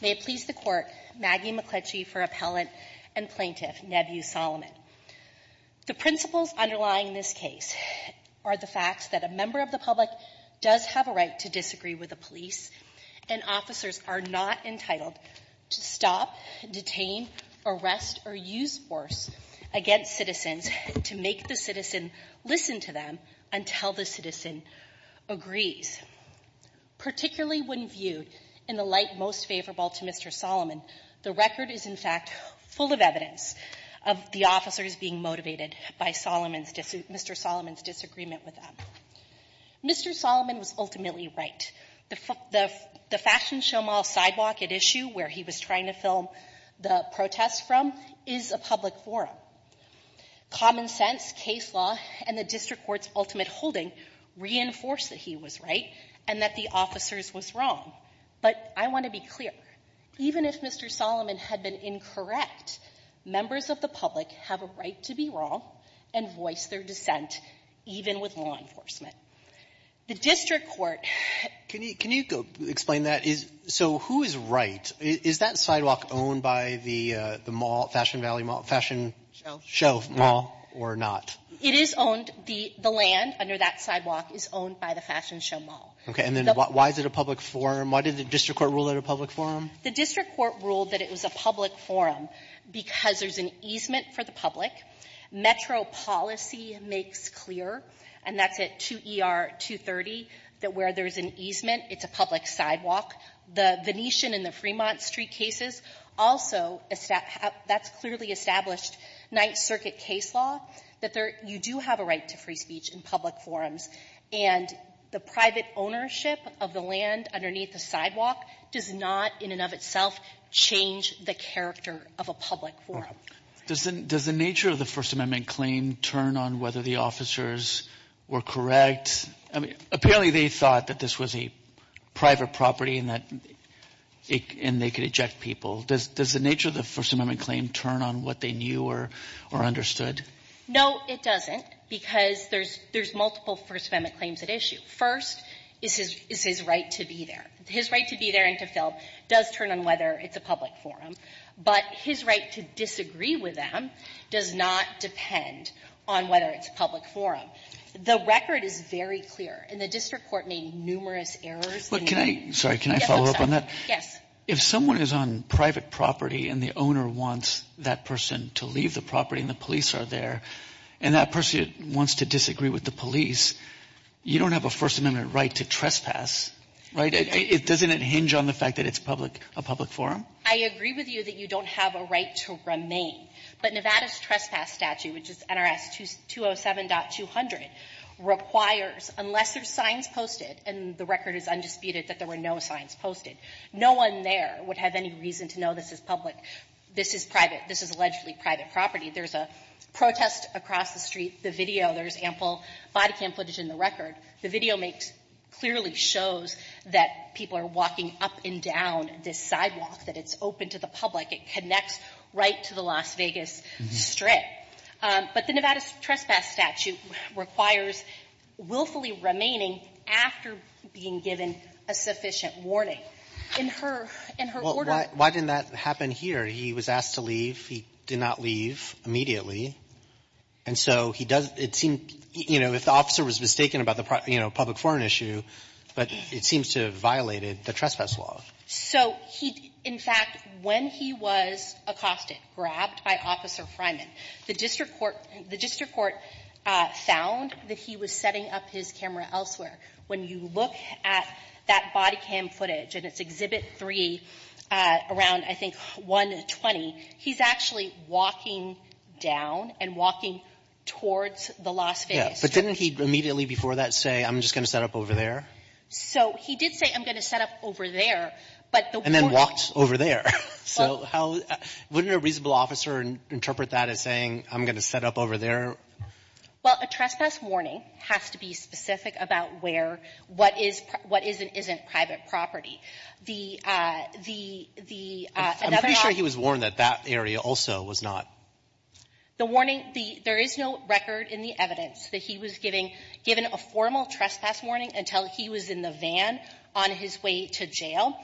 May it please the Court, Maggie McCletchie for Appellant and Plaintiff Nebby Solomon. The principles underlying this case are the facts that a member of the public does have a right to disagree with the police, and officers are not entitled to stop, detain, arrest, or use force against citizens to make the citizen listen to them until the citizen agrees. Particularly when viewed in the light most favorable to Mr. Solomon, the record is, in fact, full of evidence of the officers being motivated by Solomon's Mr. Solomon's disagreement with them. Mr. Solomon was ultimately right. The fashion show mall sidewalk at issue, where he was trying to film the protest from, is a public forum. Common sense, case law, and the district court's ultimate holding reinforce that he was right and that the officers was wrong. But I want to be clear. Even if Mr. Solomon had been incorrect, members of the public have a right to be wrong and voice their dissent, even with law enforcement. The district court — Can you explain that? So who is right? Is that sidewalk owned by the fashion show mall or not? It is owned. The land under that sidewalk is owned by the fashion show mall. Okay. And then why is it a public forum? Why did the district court rule it a public forum? The district court ruled that it was a public forum because there's an easement for the public. Metro policy makes clear, and that's at 2ER-230, that where there's an easement, it's a public sidewalk. The Venetian and the Fremont Street cases also — that's clearly established Ninth Circuit case law, that there — you do have a right to free speech in public forums. And the private ownership of the land underneath the sidewalk does not, in and of itself, change the character of a public forum. Does the nature of the First Amendment claim turn on whether the officers were correct? I mean, apparently they thought that this was a private property and that — and they could eject people. Does the nature of the First Amendment claim turn on what they knew or understood? No, it doesn't, because there's multiple First Amendment claims at issue. First is his right to be there. His right to be there and to fill does turn on whether it's a public forum. But his right to disagree with them does not depend on whether it's a public forum. The record is very clear, and the district court made numerous errors. But can I — sorry, can I follow up on that? Yes. If someone is on private property and the owner wants that person to leave the property and the police are there, and that person wants to disagree with the police, you don't have a First Amendment right to trespass, right? It — doesn't it hinge on the fact that it's public — a public forum? I agree with you that you don't have a right to remain. But Nevada's trespass statute, which is NRS 207.200, requires, unless there's signs posted — and the record is undisputed that there were no signs posted — no one there would have any reason to know this is public. This is private. This is allegedly private property. There's a protest across the street. The video — there's ample body cam footage in the record. The video makes — clearly shows that people are walking up and down this sidewalk, that it's open to the public. It connects right to the Las Vegas Strip. But the Nevada's trespass statute requires willfully remaining after being given a sufficient warning. In her — in her order — Well, why didn't that happen here? He was asked to leave. He did not leave immediately. And so he does — it seems — you know, if the officer was mistaken about the, you know, public forum issue, but it seems to have violated the trespass law. So he — in fact, when he was accosted, grabbed by Officer Freiman, the district court — the district court found that he was setting up his camera elsewhere. When you look at that body cam footage, and it's Exhibit 3, around, I think, 120, he's actually walking down and walking towards the Las Vegas Strip. But didn't he immediately before that say, I'm just going to set up over there? So he did say, I'm going to set up over there, but the — And then walked over there. So how — wouldn't a reasonable officer interpret that as saying, I'm going to set up over there? Well, a trespass warning has to be specific about where — what is — what is and isn't private property. The — the — the — I'm pretty sure he was warned that that area also was not. The warning — the — there is no record in the evidence that he was giving — given a formal trespass warning until he was in the van on his way to jail.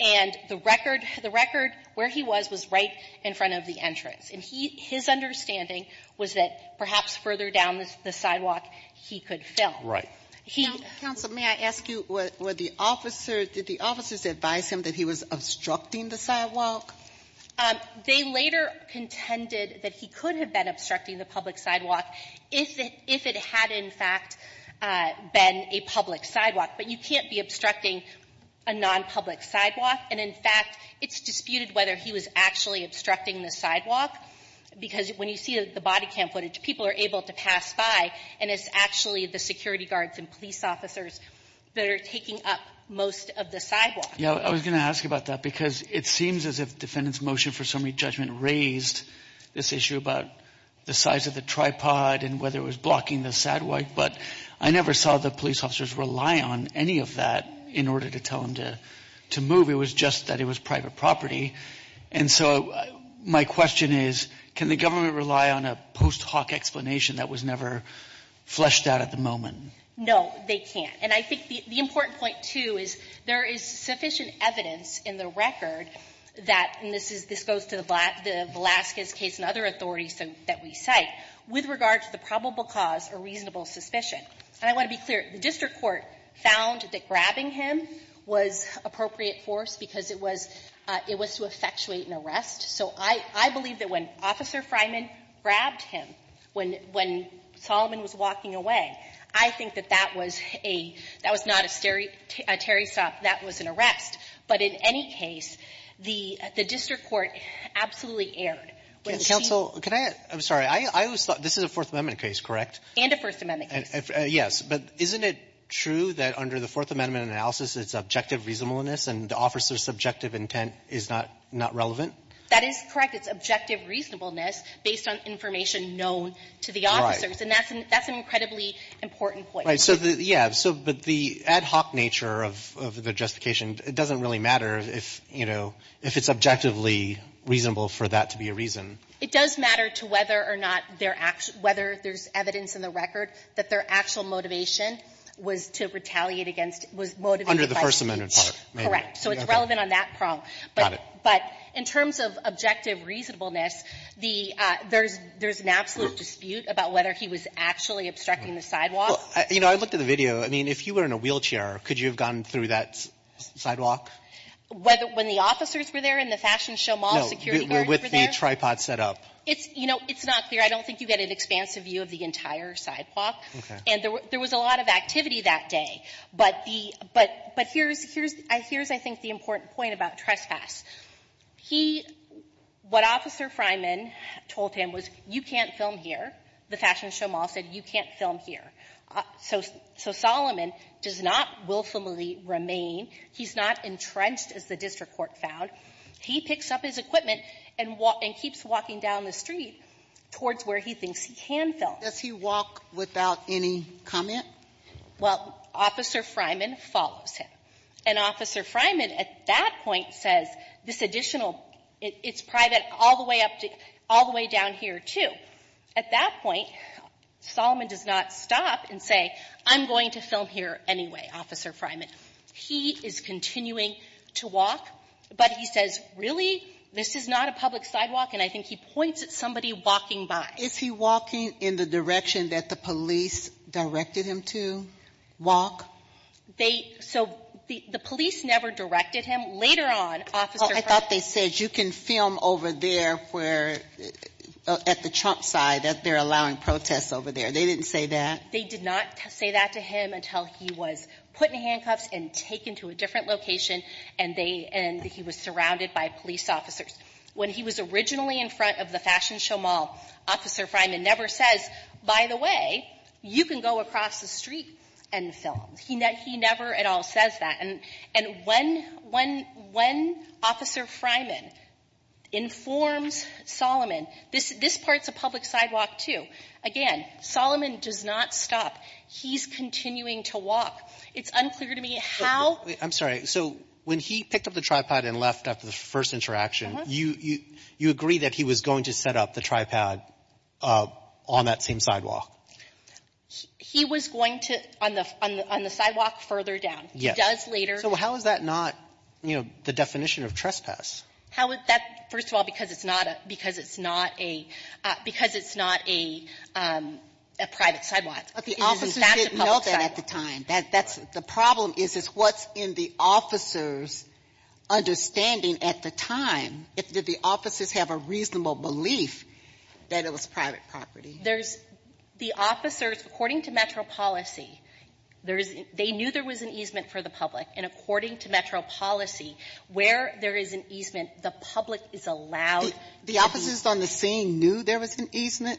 And the record — the record, where he was, was right in front of the entrance. And he — his understanding was that perhaps further down the sidewalk, he could film. Right. He — Counsel, may I ask you, were the officer — did the officers advise him that he was obstructing the sidewalk? They later contended that he could have been obstructing the public sidewalk if it — if it had, in fact, been a public sidewalk. But you can't be obstructing a nonpublic sidewalk. And, in fact, it's disputed whether he was actually obstructing the sidewalk, because when you see the body cam footage, people are able to pass by, and it's actually the security guards and police officers that are taking up most of the sidewalk. Yeah, I was going to ask about that, because it seems as if the defendant's motion for summary judgment raised this issue about the size of the tripod and whether it was blocking the sidewalk. But I never saw the police officers rely on any of that in order to tell him to move. It was just that it was private property. And so my question is, can the government rely on a post hoc explanation that was never fleshed out at the moment? No, they can't. And I think the important point, too, is there is sufficient evidence in the record that — and this goes to the Velazquez case and other authorities that we cite — with regard to the probable cause or reasonable suspicion. And I want to be clear, the district court found that grabbing him was appropriate force because it was — it was to effectuate an arrest. So I believe that when Officer Fryman grabbed him, when Solomon was walking away, I think that that was a — that was not a terry stop. That was an arrest. But in any case, the district court absolutely erred. Counsel, can I — I'm sorry, I was — this is a Fourth Amendment case, correct? And a First Amendment case. Yes. But isn't it true that under the Fourth Amendment analysis, it's objective reasonableness and the officer's subjective intent is not relevant? That is correct. It's objective reasonableness based on information known to the officers. And that's an incredibly important point. Yeah. So the ad hoc nature of the justification, it doesn't really matter if, you know, if it's objectively reasonable for that to be a reason. It does matter to whether or not they're — whether there's evidence in the record that their actual motivation was to retaliate against — was motivated by speech. Under the First Amendment part. Correct. So it's relevant on that prong. Got it. But in terms of objective reasonableness, the — there's an absolute dispute about whether he was actually obstructing the sidewalk. Well, you know, I looked at the video. I mean, if you were in a wheelchair, could you have gone through that sidewalk? Whether — when the officers were there and the fashion show mall security guard were there? No, with the tripod set up. It's — you know, it's not clear. I don't think you get an expansive view of the entire sidewalk. Okay. And there was a lot of activity that day. But the — but here's — here's, I think, the important point about trespass. He — what Officer Freiman told him was, you can't film here. The fashion show mall said, you can't film here. So — so Solomon does not willfully remain. He's not entrenched, as the district court found. He picks up his equipment and keeps walking down the street towards where he thinks he can film. Does he walk without any comment? Well, Officer Freiman follows him. And Officer Freiman, at that point, says, this additional — it's private all the way up to — all the way down here, too. At that point, Solomon does not stop and say, I'm going to film here anyway, Officer Freiman. He is continuing to walk. But he says, really? This is not a public sidewalk. And I think he points at somebody walking by. Is he walking in the direction that the police directed him to walk? They — so the police never directed him. Later on, Officer Freiman — They did not say that to him until he was put in handcuffs and taken to a different location and they — and he was surrounded by police officers. When he was originally in front of the fashion show mall, Officer Freiman never says, by the way, you can go across the street and film. He never at all says that. And when — when — when Officer Freiman informs Solomon, this — this part's a public sidewalk, too, again, Solomon does not stop. He's continuing to walk. It's unclear to me how — I'm sorry. So when he picked up the tripod and left after the first interaction, you — you agree that he was going to set up the tripod on that same sidewalk? He was going to — on the — on the sidewalk further down. He does later — So how is that not, you know, the definition of trespass? How is that — first of all, because it's not a — because it's not a — because it's not a — a private sidewalk. But the officers didn't know that at the time. That's — the problem is, is what's in the officers' understanding at the time, if the officers have a reasonable belief that it was private property? There's — the officers, according to Metro policy, there is — they knew there was an easement for the public. And according to Metro policy, where there is an easement, the public is allowed to be — The officers on the scene knew there was an easement?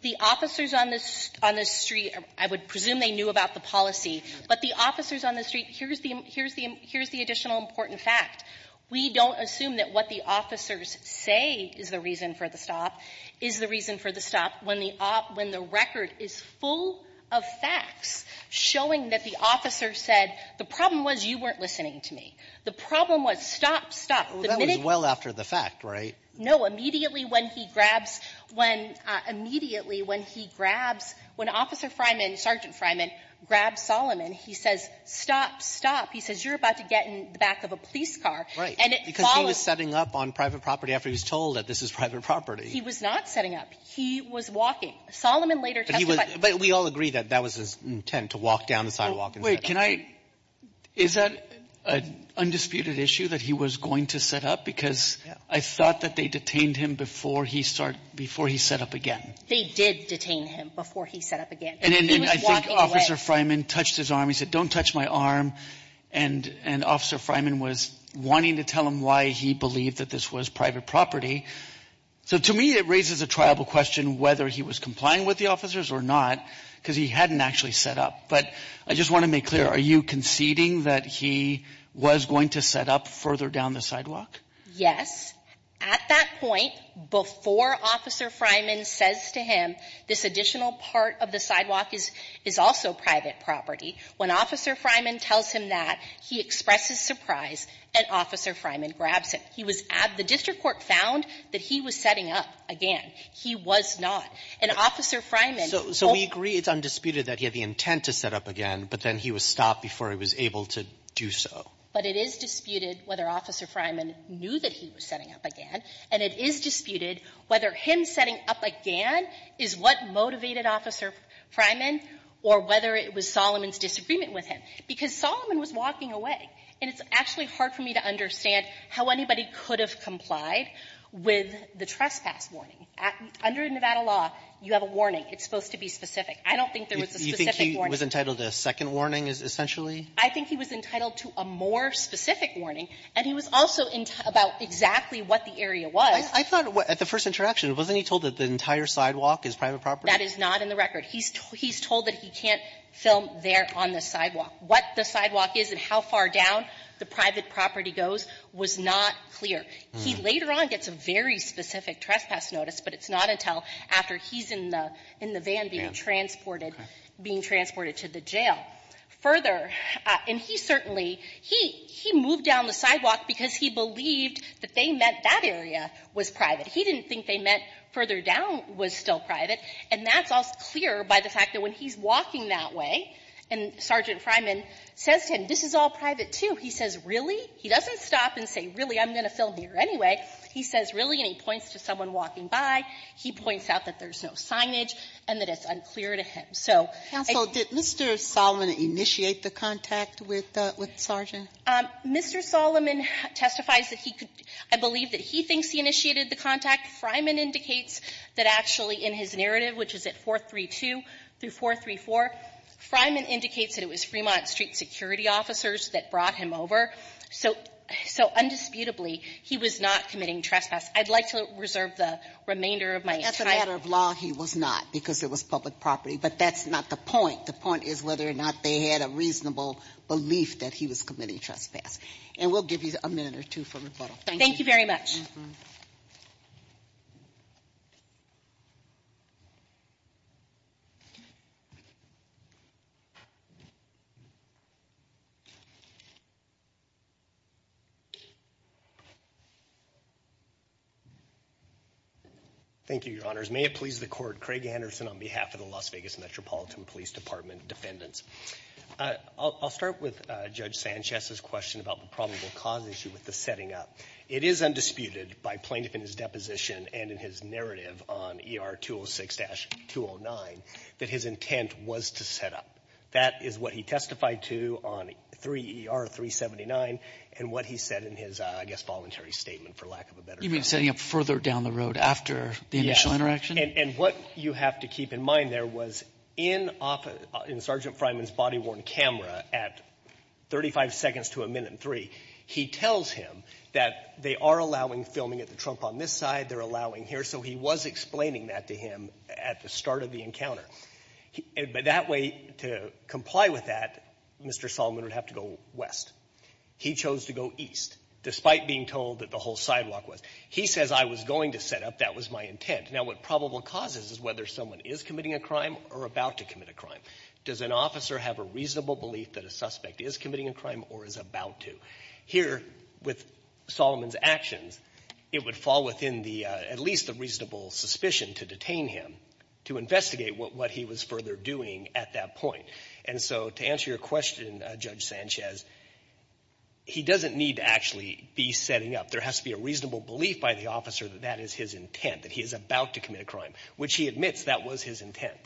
The officers on the — on the street, I would presume they knew about the policy. But the officers on the street — here's the — here's the — here's the additional important fact. We don't assume that what the officers say is the reason for the stop is the reason for the stop when the — when the record is full of facts showing that the officer said, the problem was you weren't listening to me. The problem was, stop, stop, the minute — Well, that was well after the fact, right? No. Immediately when he grabs — when — immediately when he grabs — when Officer Freiman, Sergeant Freiman, grabs Solomon, he says, stop, stop. He says, you're about to get in the back of a police car. And it follows — Because he was setting up on private property after he was told that this is private property. He was not setting up. He was walking. Solomon later testified — But he was — but we all agree that that was his intent, to walk down the sidewalk and — Well, wait. Can I — is that an undisputed issue, that he was going to set up? Because I thought that they detained him before he started — before he set up again. They did detain him before he set up again. And then — and I think Officer Freiman touched his arm. He said, don't touch my arm. And — and Officer Freiman was wanting to tell him why he believed that this was private property. So, to me, it raises a triable question whether he was complying with the officers or not, because he hadn't actually set up. But I just want to make clear, are you conceding that he was going to set up further down the sidewalk? Yes. At that point, before Officer Freiman says to him, this additional part of the sidewalk is — is also private property. When Officer Freiman tells him that, he expresses surprise, and Officer Freiman grabs him. He was — the district court found that he was setting up again. He was not. And Officer Freiman — So — so we agree it's undisputed that he had the intent to set up again, but then he was stopped before he was able to do so. But it is disputed whether Officer Freiman knew that he was setting up again. And it is disputed whether him setting up again is what motivated Officer Freiman or whether it was Solomon's disagreement with him. Because Solomon was walking away. And it's actually hard for me to understand how anybody could have complied with the trespass warning. Under Nevada law, you have a warning. It's supposed to be specific. I don't think there was a specific warning. You think he was entitled to a second warning, essentially? I think he was entitled to a more specific warning. And he was also about exactly what the area was. I thought at the first interaction, wasn't he told that the entire sidewalk is private property? That is not in the record. He's told that he can't film there on the sidewalk. What the sidewalk is and how far down the private property goes was not clear. He later on gets a very specific trespass notice, but it's not until after he's in the van being transported to the jail. Further — and he certainly — he moved down the sidewalk because he believed that they meant that area was private. He didn't think they meant further down was still private. And that's all clear by the fact that when he's walking that way and Sergeant Freiman says to him, this is all private, too, he says, really? He doesn't stop and say, really, I'm going to film here anyway. He says, really? And he points to someone walking by. He points out that there's no signage and that it's unclear to him. So — Counsel, did Mr. Solomon initiate the contact with the — with the sergeant? Mr. Solomon testifies that he could — I believe that he thinks he initiated the contact. Freiman indicates that actually in his narrative, which is at 432 through 434, Freiman indicates that it was Fremont Street security officers that brought him over. So — so, undisputably, he was not committing trespass. I'd like to reserve the remainder of my time. As a matter of law, he was not because it was public property. But that's not the point. The point is whether or not they had a reasonable belief that he was committing trespass. And we'll give you a minute or two for rebuttal. Thank you. Thank you very much. Thank you, Your Honors. May it please the Court, Craig Anderson on behalf of the Las Vegas Metropolitan Police Department defendants. I'll start with Judge Sanchez's question about the probable cause issue with the setting up. It is undisputed by plaintiff in his deposition and in his narrative on ER-206-209 that his intent was to set up. That is what he testified to on 3ER-379 and what he said in his, I guess, voluntary statement, for lack of a better term. You mean setting up further down the road after the initial interaction? Yes. And what you have to keep in mind there was in Sergeant Freiman's body-worn camera at 35 seconds to a minute and three, he tells him that they are allowing filming at the trunk on this side, they're allowing here. So he was explaining that to him at the start of the encounter. But that way, to comply with that, Mr. Solomon would have to go west. He chose to go east, despite being told that the whole sidewalk was. He says, I was going to set up. That was my intent. Now, what probable cause is, is whether someone is committing a crime or about to commit a crime. Does an officer have a reasonable belief that a suspect is committing a crime or is about to? Here, with Solomon's actions, it would fall within the, at least the reasonable suspicion to detain him, to investigate what he was further doing at that point. And so, to answer your question, Judge Sanchez, he doesn't need to actually be setting up. There has to be a reasonable belief by the officer that that is his intent, that he is about to commit a crime, which he admits that was his intent.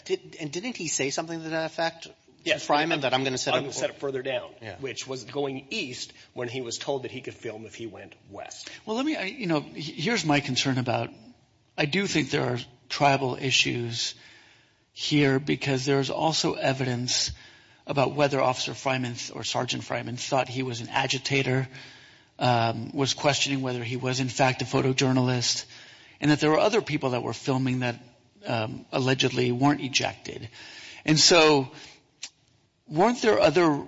And didn't he say something to that effect? Yes. I'm going to set it further down, which was going east when he was told that he could film if he went west. Well, let me, you know, here's my concern about, I do think there are tribal issues here, because there's also evidence about whether Officer Fryman or Sergeant Fryman thought he was an agitator, was questioning whether he was, in fact, a photojournalist, and that there were other people that were filming that allegedly weren't ejected. And so, weren't there other,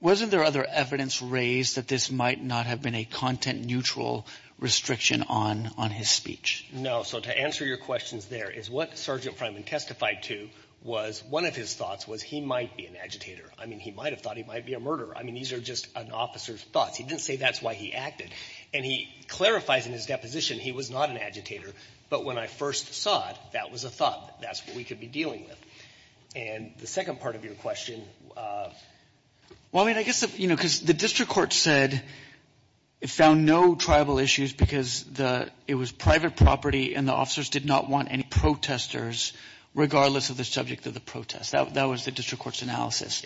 wasn't there other evidence raised that this might not have been a content-neutral restriction on his speech? No. So, to answer your questions there, is what Sergeant Fryman testified to was, one of his thoughts was he might be an agitator. I mean, he might have thought he might be a murderer. I mean, these are just an officer's thoughts. He didn't say that's why he acted. And he clarifies in his deposition he was not an agitator, but when I first saw it, that was a thought. That's what we could be dealing with. And the second part of your question, well, I mean, I guess, you know, because the district court said it found no tribal issues because it was private property and the officers did not want any protesters, regardless of the subject of the protest. That was the district court's analysis.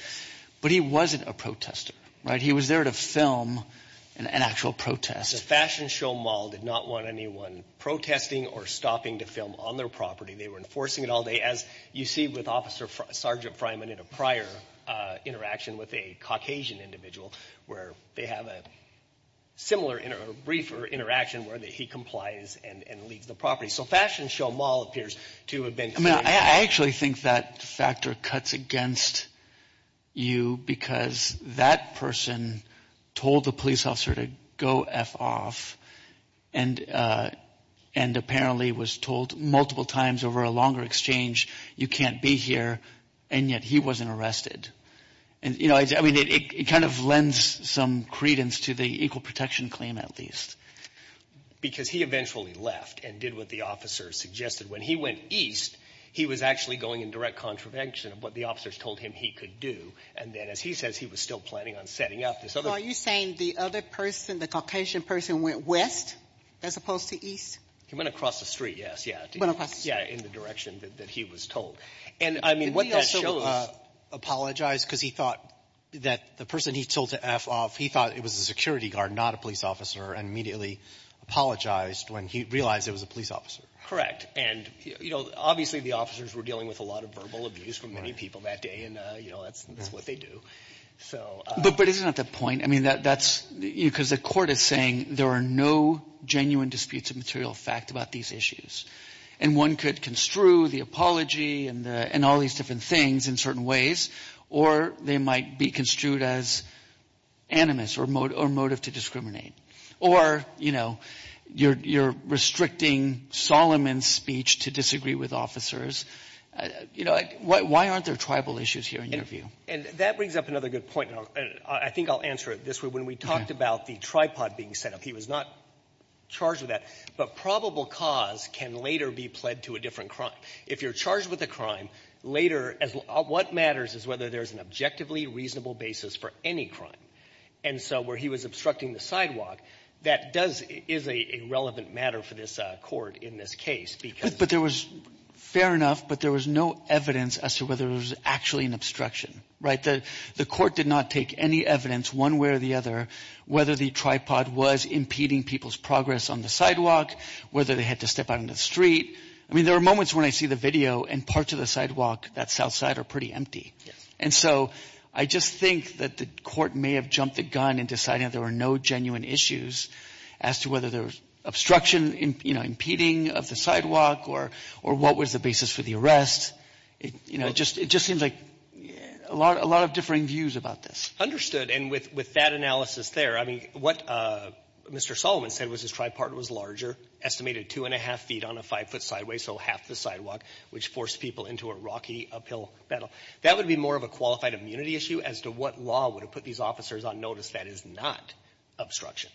But he wasn't a protester, right? He was there to film an actual protest. The fashion show mall did not want anyone protesting or stopping to film on their property. They were enforcing it all day, as you see with Officer Sergeant Fryman in a prior interaction with a Caucasian individual, where they have a similar, a briefer interaction where he complies and leaves the property. So, fashion show mall appears to have been. I mean, I actually think that factor cuts against you because that person told the police officer to go F off. And apparently was told multiple times over a longer exchange, you can't be here. And yet he wasn't arrested. And, you know, I mean, it kind of lends some credence to the equal protection claim, at least. Because he eventually left and did what the officers suggested. When he went east, he was actually going in direct contravention of what the officers told him he could do. And then, as he says, he was still planning on setting up this other. So, are you saying the other person, the Caucasian person, went west as opposed to east? He went across the street, yes, yeah. Went across the street. Yeah, in the direction that he was told. And, I mean, what that shows. Apologized because he thought that the person he told to F off, he thought it was a security guard, not a police officer. And immediately apologized when he realized it was a police officer. Correct. And, you know, obviously the officers were dealing with a lot of verbal abuse from many people that day. And, you know, that's what they do. So. But, isn't that the point? I mean, that's, you know, because the court is saying there are no genuine disputes of material fact about these issues. And one could construe the apology and all these different things in certain ways. Or they might be construed as animus or motive to discriminate. Or, you know, you're restricting Solomon's speech to disagree with officers. You know, why aren't there tribal issues here in your view? And that brings up another good point. And I think I'll answer it this way. When we talked about the tripod being set up, he was not charged with that. But probable cause can later be pled to a different crime. If you're charged with a crime, later, what matters is whether there's an objectively reasonable basis for any crime. And so where he was obstructing the sidewalk, that does, is a relevant matter for this court in this case. But there was, fair enough, but there was no evidence as to whether it was actually an obstruction. Right. The court did not take any evidence one way or the other whether the tripod was impeding people's progress on the sidewalk, whether they had to step out on the street. I mean, there are moments when I see the video and parts of the sidewalk that's outside are pretty empty. And so I just think that the court may have jumped the gun and decided there were no genuine issues as to whether there was obstruction, impeding of the sidewalk, or what was the basis for the arrest. It just seems like a lot of differing views about this. Understood. And with that analysis there, I mean, what Mr. Solomon said was his tripod was larger, estimated two and a half feet on a five foot sideway, so half the sidewalk, which forced people into a rocky uphill battle. That would be more of a qualified immunity issue as to what law would have put these officers on notice that is not obstruction.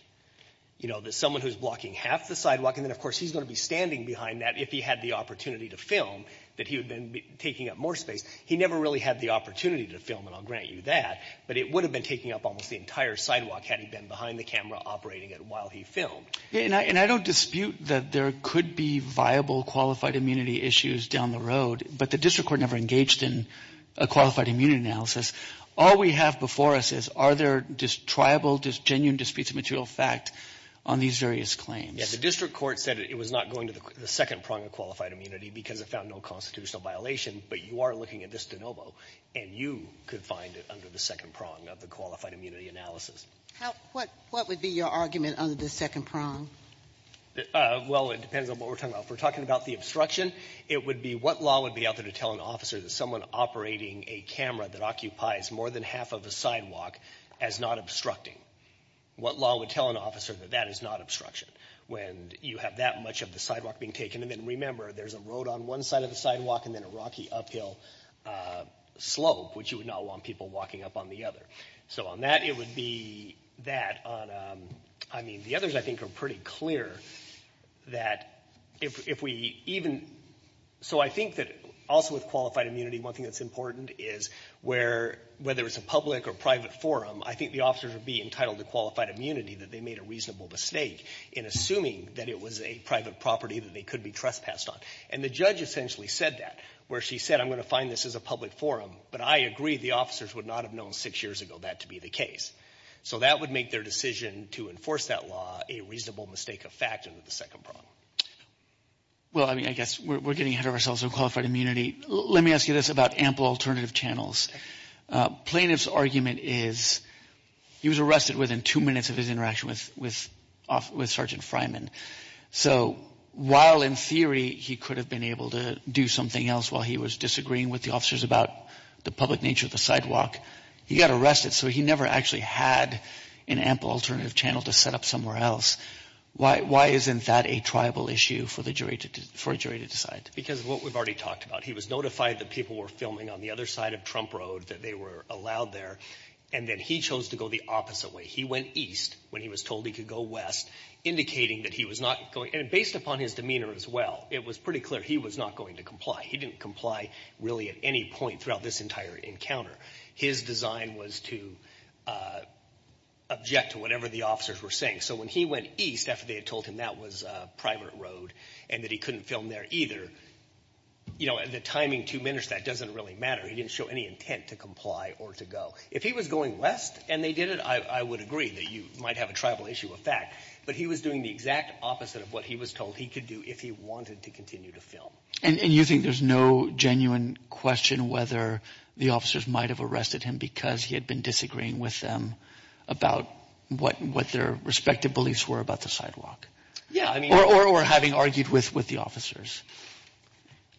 You know, that someone who's blocking half the sidewalk, and then of course he's going to be standing behind that if he had the opportunity to film, that he would then be taking up more space. He never really had the opportunity to film, and I'll grant you that. But it would have been taking up almost the entire sidewalk had he been behind the camera operating it while he filmed. And I don't dispute that there could be viable qualified immunity issues down the road, but the district court never engaged in a qualified immunity analysis. All we have before us is are there just triable, just genuine disputes of material fact on these various claims? Yeah, the district court said it was not going to the second prong of qualified immunity because it found no constitutional violation. But you are looking at this de novo, and you could find it under the second prong of the qualified immunity analysis. What would be your argument under the second prong? Well, it depends on what we're talking about. If we're talking about the obstruction, it would be what law would be out there to tell an officer that someone operating a camera that occupies more than half of a sidewalk as not obstructing. What law would tell an officer that that is not obstruction? When you have that much of the sidewalk being taken, and then remember, there's a road on one side of the sidewalk and then a rocky uphill slope, which you would not want people walking up on the other. So on that, it would be that on, I mean, the others I think are pretty clear that if we even. So I think that also with qualified immunity, one thing that's important is where, whether it's a public or private forum, I think the officers would be entitled to qualified immunity that they made a reasonable mistake in assuming that it was a private property that they could be trespassed on. And the judge essentially said that, where she said, I'm going to find this as a public forum. But I agree, the officers would not have known six years ago that to be the case. So that would make their decision to enforce that law a reasonable mistake of fact under the second prong. Well, I mean, I guess we're getting ahead of ourselves on qualified immunity. Let me ask you this about ample alternative channels. Plaintiff's argument is he was arrested within two minutes of his interaction with Sergeant Fryman. So while in theory he could have been able to do something else while he was disagreeing with the officers about the public nature of the sidewalk, he got arrested, so he never actually had an ample alternative channel to set up somewhere else. Why isn't that a tribal issue for the jury to decide? Because of what we've already talked about. He was notified that people were filming on the other side of Trump Road, that they were allowed there. And then he chose to go the opposite way. He went east when he was told he could go west, indicating that he was not going. And based upon his demeanor as well, it was pretty clear he was not going to comply. He didn't comply really at any point throughout this entire encounter. His design was to object to whatever the officers were saying. So when he went east after they had told him that was Primer Road and that he couldn't film there either, the timing to diminish that doesn't really matter. He didn't show any intent to comply or to go. If he was going west and they did it, I would agree that you might have a tribal issue with that. But he was doing the exact opposite of what he was told he could do if he wanted to continue to film. And you think there's no genuine question whether the officers might have arrested him because he had been disagreeing with them about what their respective beliefs were about the sidewalk. Yeah. Or having argued with the officers.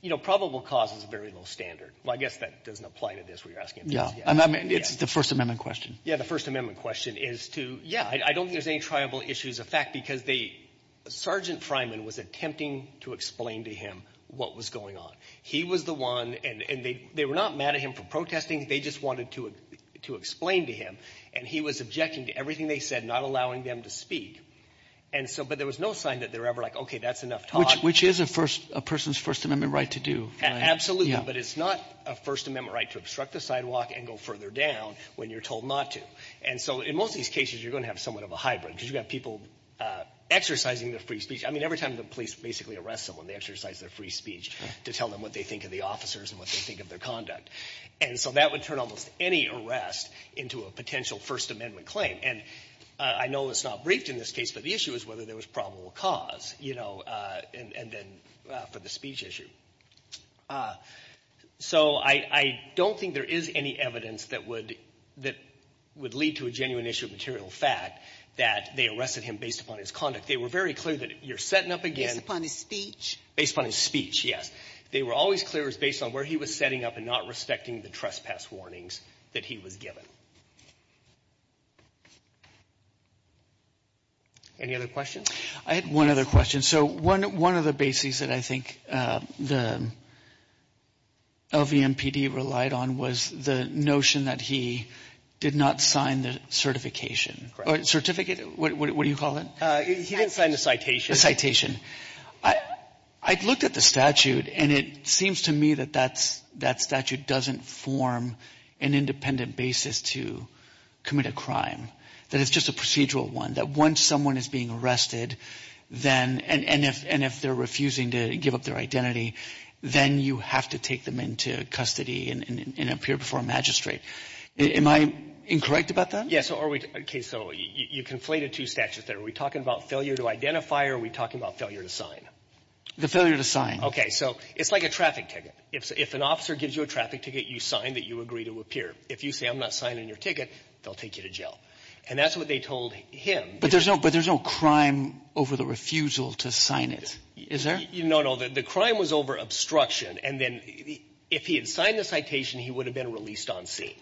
You know, probable cause is a very low standard. Well, I guess that doesn't apply to this. I mean, it's the First Amendment question. Yeah, the First Amendment question is to, yeah, I don't think there's any tribal issues. In fact, because Sergeant Fryman was attempting to explain to him what was going on. He was the one, and they were not mad at him for protesting. They just wanted to explain to him. And he was objecting to everything they said, not allowing them to speak. But there was no sign that they were ever like, okay, that's enough talk. Which is a person's First Amendment right to do. Absolutely. But it's not a First Amendment right to obstruct the sidewalk and go further down when you're told not to. And so in most of these cases, you're going to have somewhat of a hybrid because you've got people exercising their free speech. I mean, every time the police basically arrest someone, they exercise their free speech to tell them what they think of the officers and what they think of their conduct. And so that would turn almost any arrest into a potential First Amendment claim. And I know it's not briefed in this case, but the issue is whether there was probable cause, you know, and then for the speech issue. So I don't think there is any evidence that would lead to a genuine issue of material fact that they arrested him based upon his conduct. They were very clear that you're setting up again. Based upon his speech? Based upon his speech, yes. They were always clear it was based on where he was setting up and not respecting the trespass warnings that he was given. Any other questions? I had one other question. So one of the bases that I think the LVMPD relied on was the notion that he did not sign the certification. Certificate? What do you call it? He didn't sign the citation. The citation. I looked at the statute, and it seems to me that that statute doesn't form an independent basis to commit a crime, that it's just a procedural one, that once someone is being arrested, and if they're refusing to give up their identity, then you have to take them into custody and appear before a magistrate. Am I incorrect about that? Yes. So you conflated two statutes there. Are we talking about failure to identify or are we talking about failure to sign? The failure to sign. Okay. So it's like a traffic ticket. If an officer gives you a traffic ticket, you sign that you agree to appear. If you say I'm not signing your ticket, they'll take you to jail. And that's what they told him. But there's no crime over the refusal to sign it, is there? No, no. The crime was over obstruction. And then if he had signed the citation, he would have been released on scene.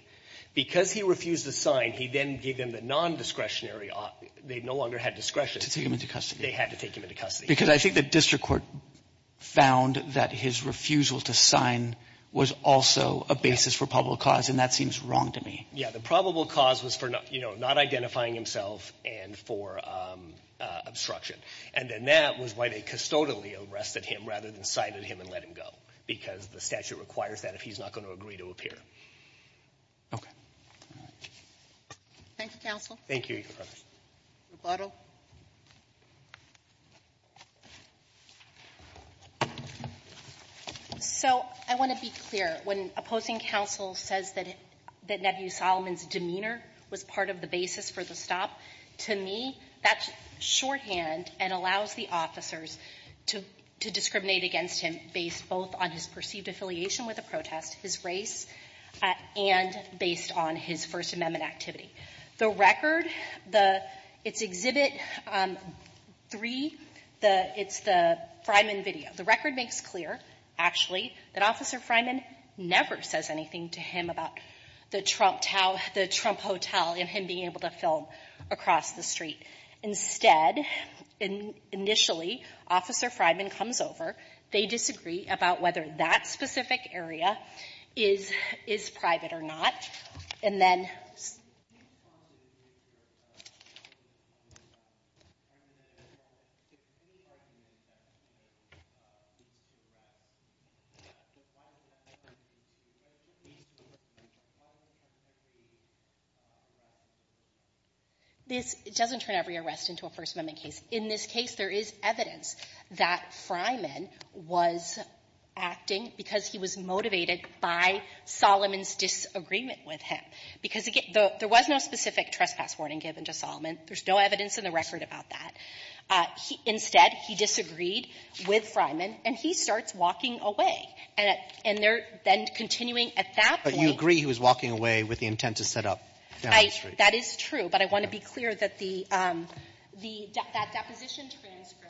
Because he refused to sign, he then gave them the nondiscretionary option. They no longer had discretion. To take him into custody. They had to take him into custody. Because I think the district court found that his refusal to sign was also a basis for probable cause, and that seems wrong to me. Yeah. The probable cause was for, you know, not identifying himself and for obstruction. And then that was why they custodially arrested him rather than cited him and let him go, because the statute requires that if he's not going to agree to appear. Okay. All right. Thank you, counsel. Thank you, Your Honor. Rebuttal. So I want to be clear. When opposing counsel says that Nebby Solomon's demeanor was part of the basis for the stop, to me, that's shorthand and allows the officers to discriminate against him based both on his perceived affiliation with the protest, his race, and based on his First Amendment activity. The record, it's Exhibit 3. It's the Fryman video. The record makes clear, actually, that Officer Fryman never says anything to him about the Trump hotel and him being able to film across the street. Instead, initially, Officer Fryman comes over. They disagree about whether that specific area is private or not. And then this doesn't turn every arrest into a First Amendment case. In this case, there is evidence that Fryman was acting because he was motivated by Solomon's disagreement with him. Because, again, there was no specific trespass warning given to Solomon. There's no evidence in the record about that. Instead, he disagreed with Fryman, and he starts walking away. And they're then continuing at that point. But you agree he was walking away with the intent to set up down the street. That is true. But I want to be clear that the deposition transcript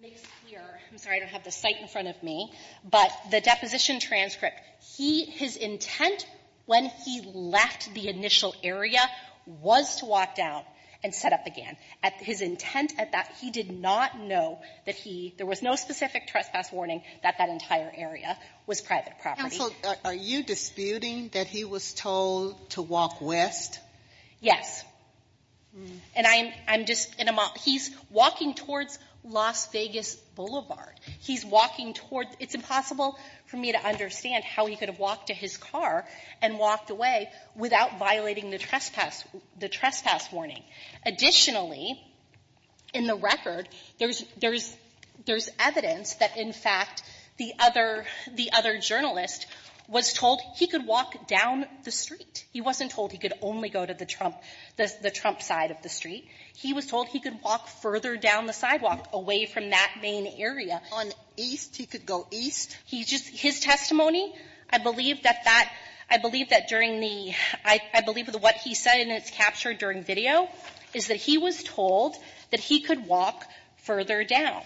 makes it clear. I'm sorry I don't have the site in front of me. But the deposition transcript, his intent when he left the initial area was to walk down and set up again. His intent at that, he did not know that he – there was no specific trespass warning that that entire area was private property. Sotomayor, are you disputing that he was told to walk west? Yes. And I'm just – he's walking towards Las Vegas Boulevard. He's walking toward – it's impossible for me to understand how he could have walked to his car and walked away without violating the trespass warning. Additionally, in the record, there's evidence that, in fact, the other journalist was told he could walk down the street. He wasn't told he could only go to the Trump – the Trump side of the street. He was told he could walk further down the sidewalk away from that main area. On east, he could go east? He just – his testimony, I believe that that – I believe that during the – I believe what he said, and it's captured during video, is that he was told that he could walk further down.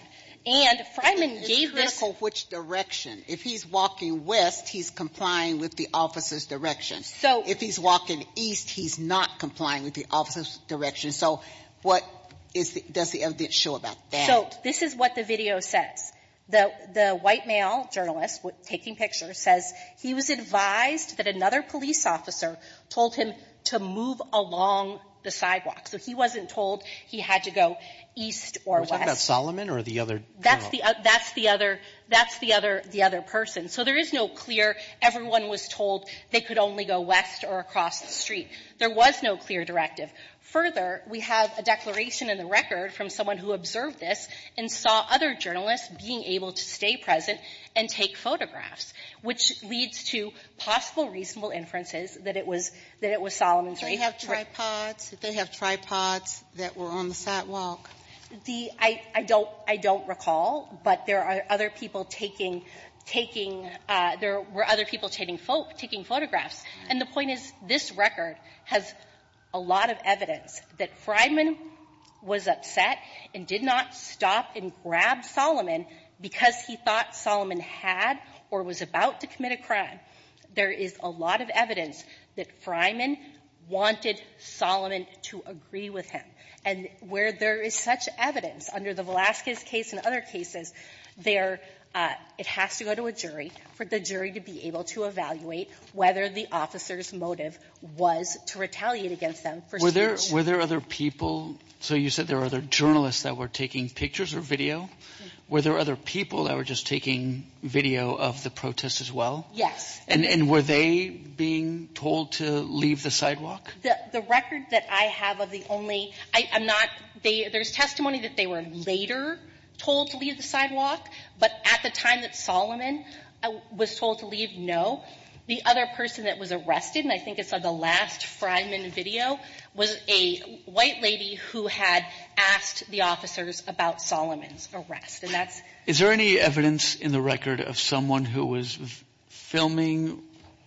And Freiman gave this – It's critical which direction. If he's walking west, he's complying with the officer's direction. If he's walking east, he's not complying with the officer's direction. So what is the – does the evidence show about that? So this is what the video says. The white male journalist taking pictures says he was advised that another police officer told him to move along the sidewalk. So he wasn't told he had to go east or west. Was that Solomon or the other journalist? That's the – that's the other – that's the other – the other person. So there is no clear – everyone was told they could only go west or across the street. There was no clear directive. Further, we have a declaration in the record from someone who observed this and saw other journalists being able to stay present and take photographs, which leads to possible reasonable inferences that it was – that it was Solomon's right. Do they have tripods? Did they have tripods that were on the sidewalk? The – I – I don't – I don't recall, but there are other people taking – taking – there were other people taking photographs. And the point is, this record has a lot of evidence that Fryman was upset and did not stop and grab Solomon because he thought Solomon had or was about to commit a crime. There is a lot of evidence that Fryman wanted Solomon to agree with him. And where there is such evidence under the Velazquez case and other cases, there – it has to go to a jury for the jury to be able to evaluate whether the officer's motive was to retaliate against them for – Were there – were there other people – so you said there were other journalists that were taking pictures or video. Were there other people that were just taking video of the protest as well? Yes. And – and were they being told to leave the sidewalk? The – the record that I have of the only – I'm not – they – there's testimony that they were later told to leave the sidewalk. But at the time that Solomon was told to leave, no. The other person that was arrested, and I think it's on the last Fryman video, was a white lady who had asked the officers about Solomon's arrest. And that's – Is there any evidence in the record of someone who was filming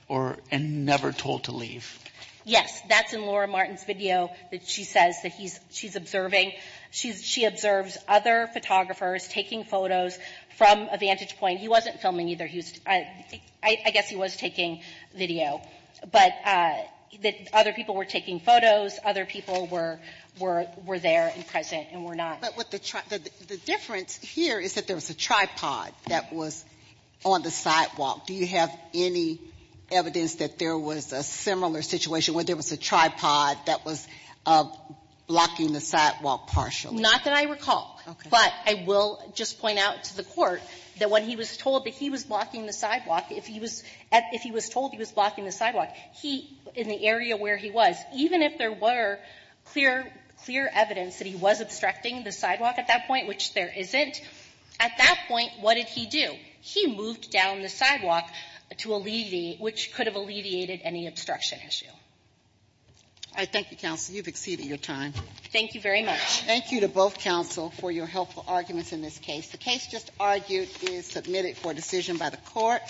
or – and never told to leave? Yes. That's in Laura Martin's video that she says that he's – she's observing. She's – she observes other photographers taking photos from a vantage point. He wasn't filming either. He was – I guess he was taking video. But other people were taking photos. Other people were – were there and present and were not. But what the – the difference here is that there was a tripod that was on the sidewalk. Do you have any evidence that there was a similar situation where there was a tripod that was blocking the sidewalk partially? Not that I recall. Okay. But I will just point out to the Court that when he was told that he was blocking the sidewalk, if he was – if he was told he was blocking the sidewalk, he – in the area where he was, even if there were clear – clear evidence that he was obstructing the sidewalk at that point, which there isn't, at that point, what did he do? He moved down the sidewalk to alleviate – which could have alleviated any obstruction issue. All right. Thank you, counsel. You've exceeded your time. Thank you very much. Thank you to both counsel for your helpful arguments in this case. The case just argued is submitted for decision by the Court.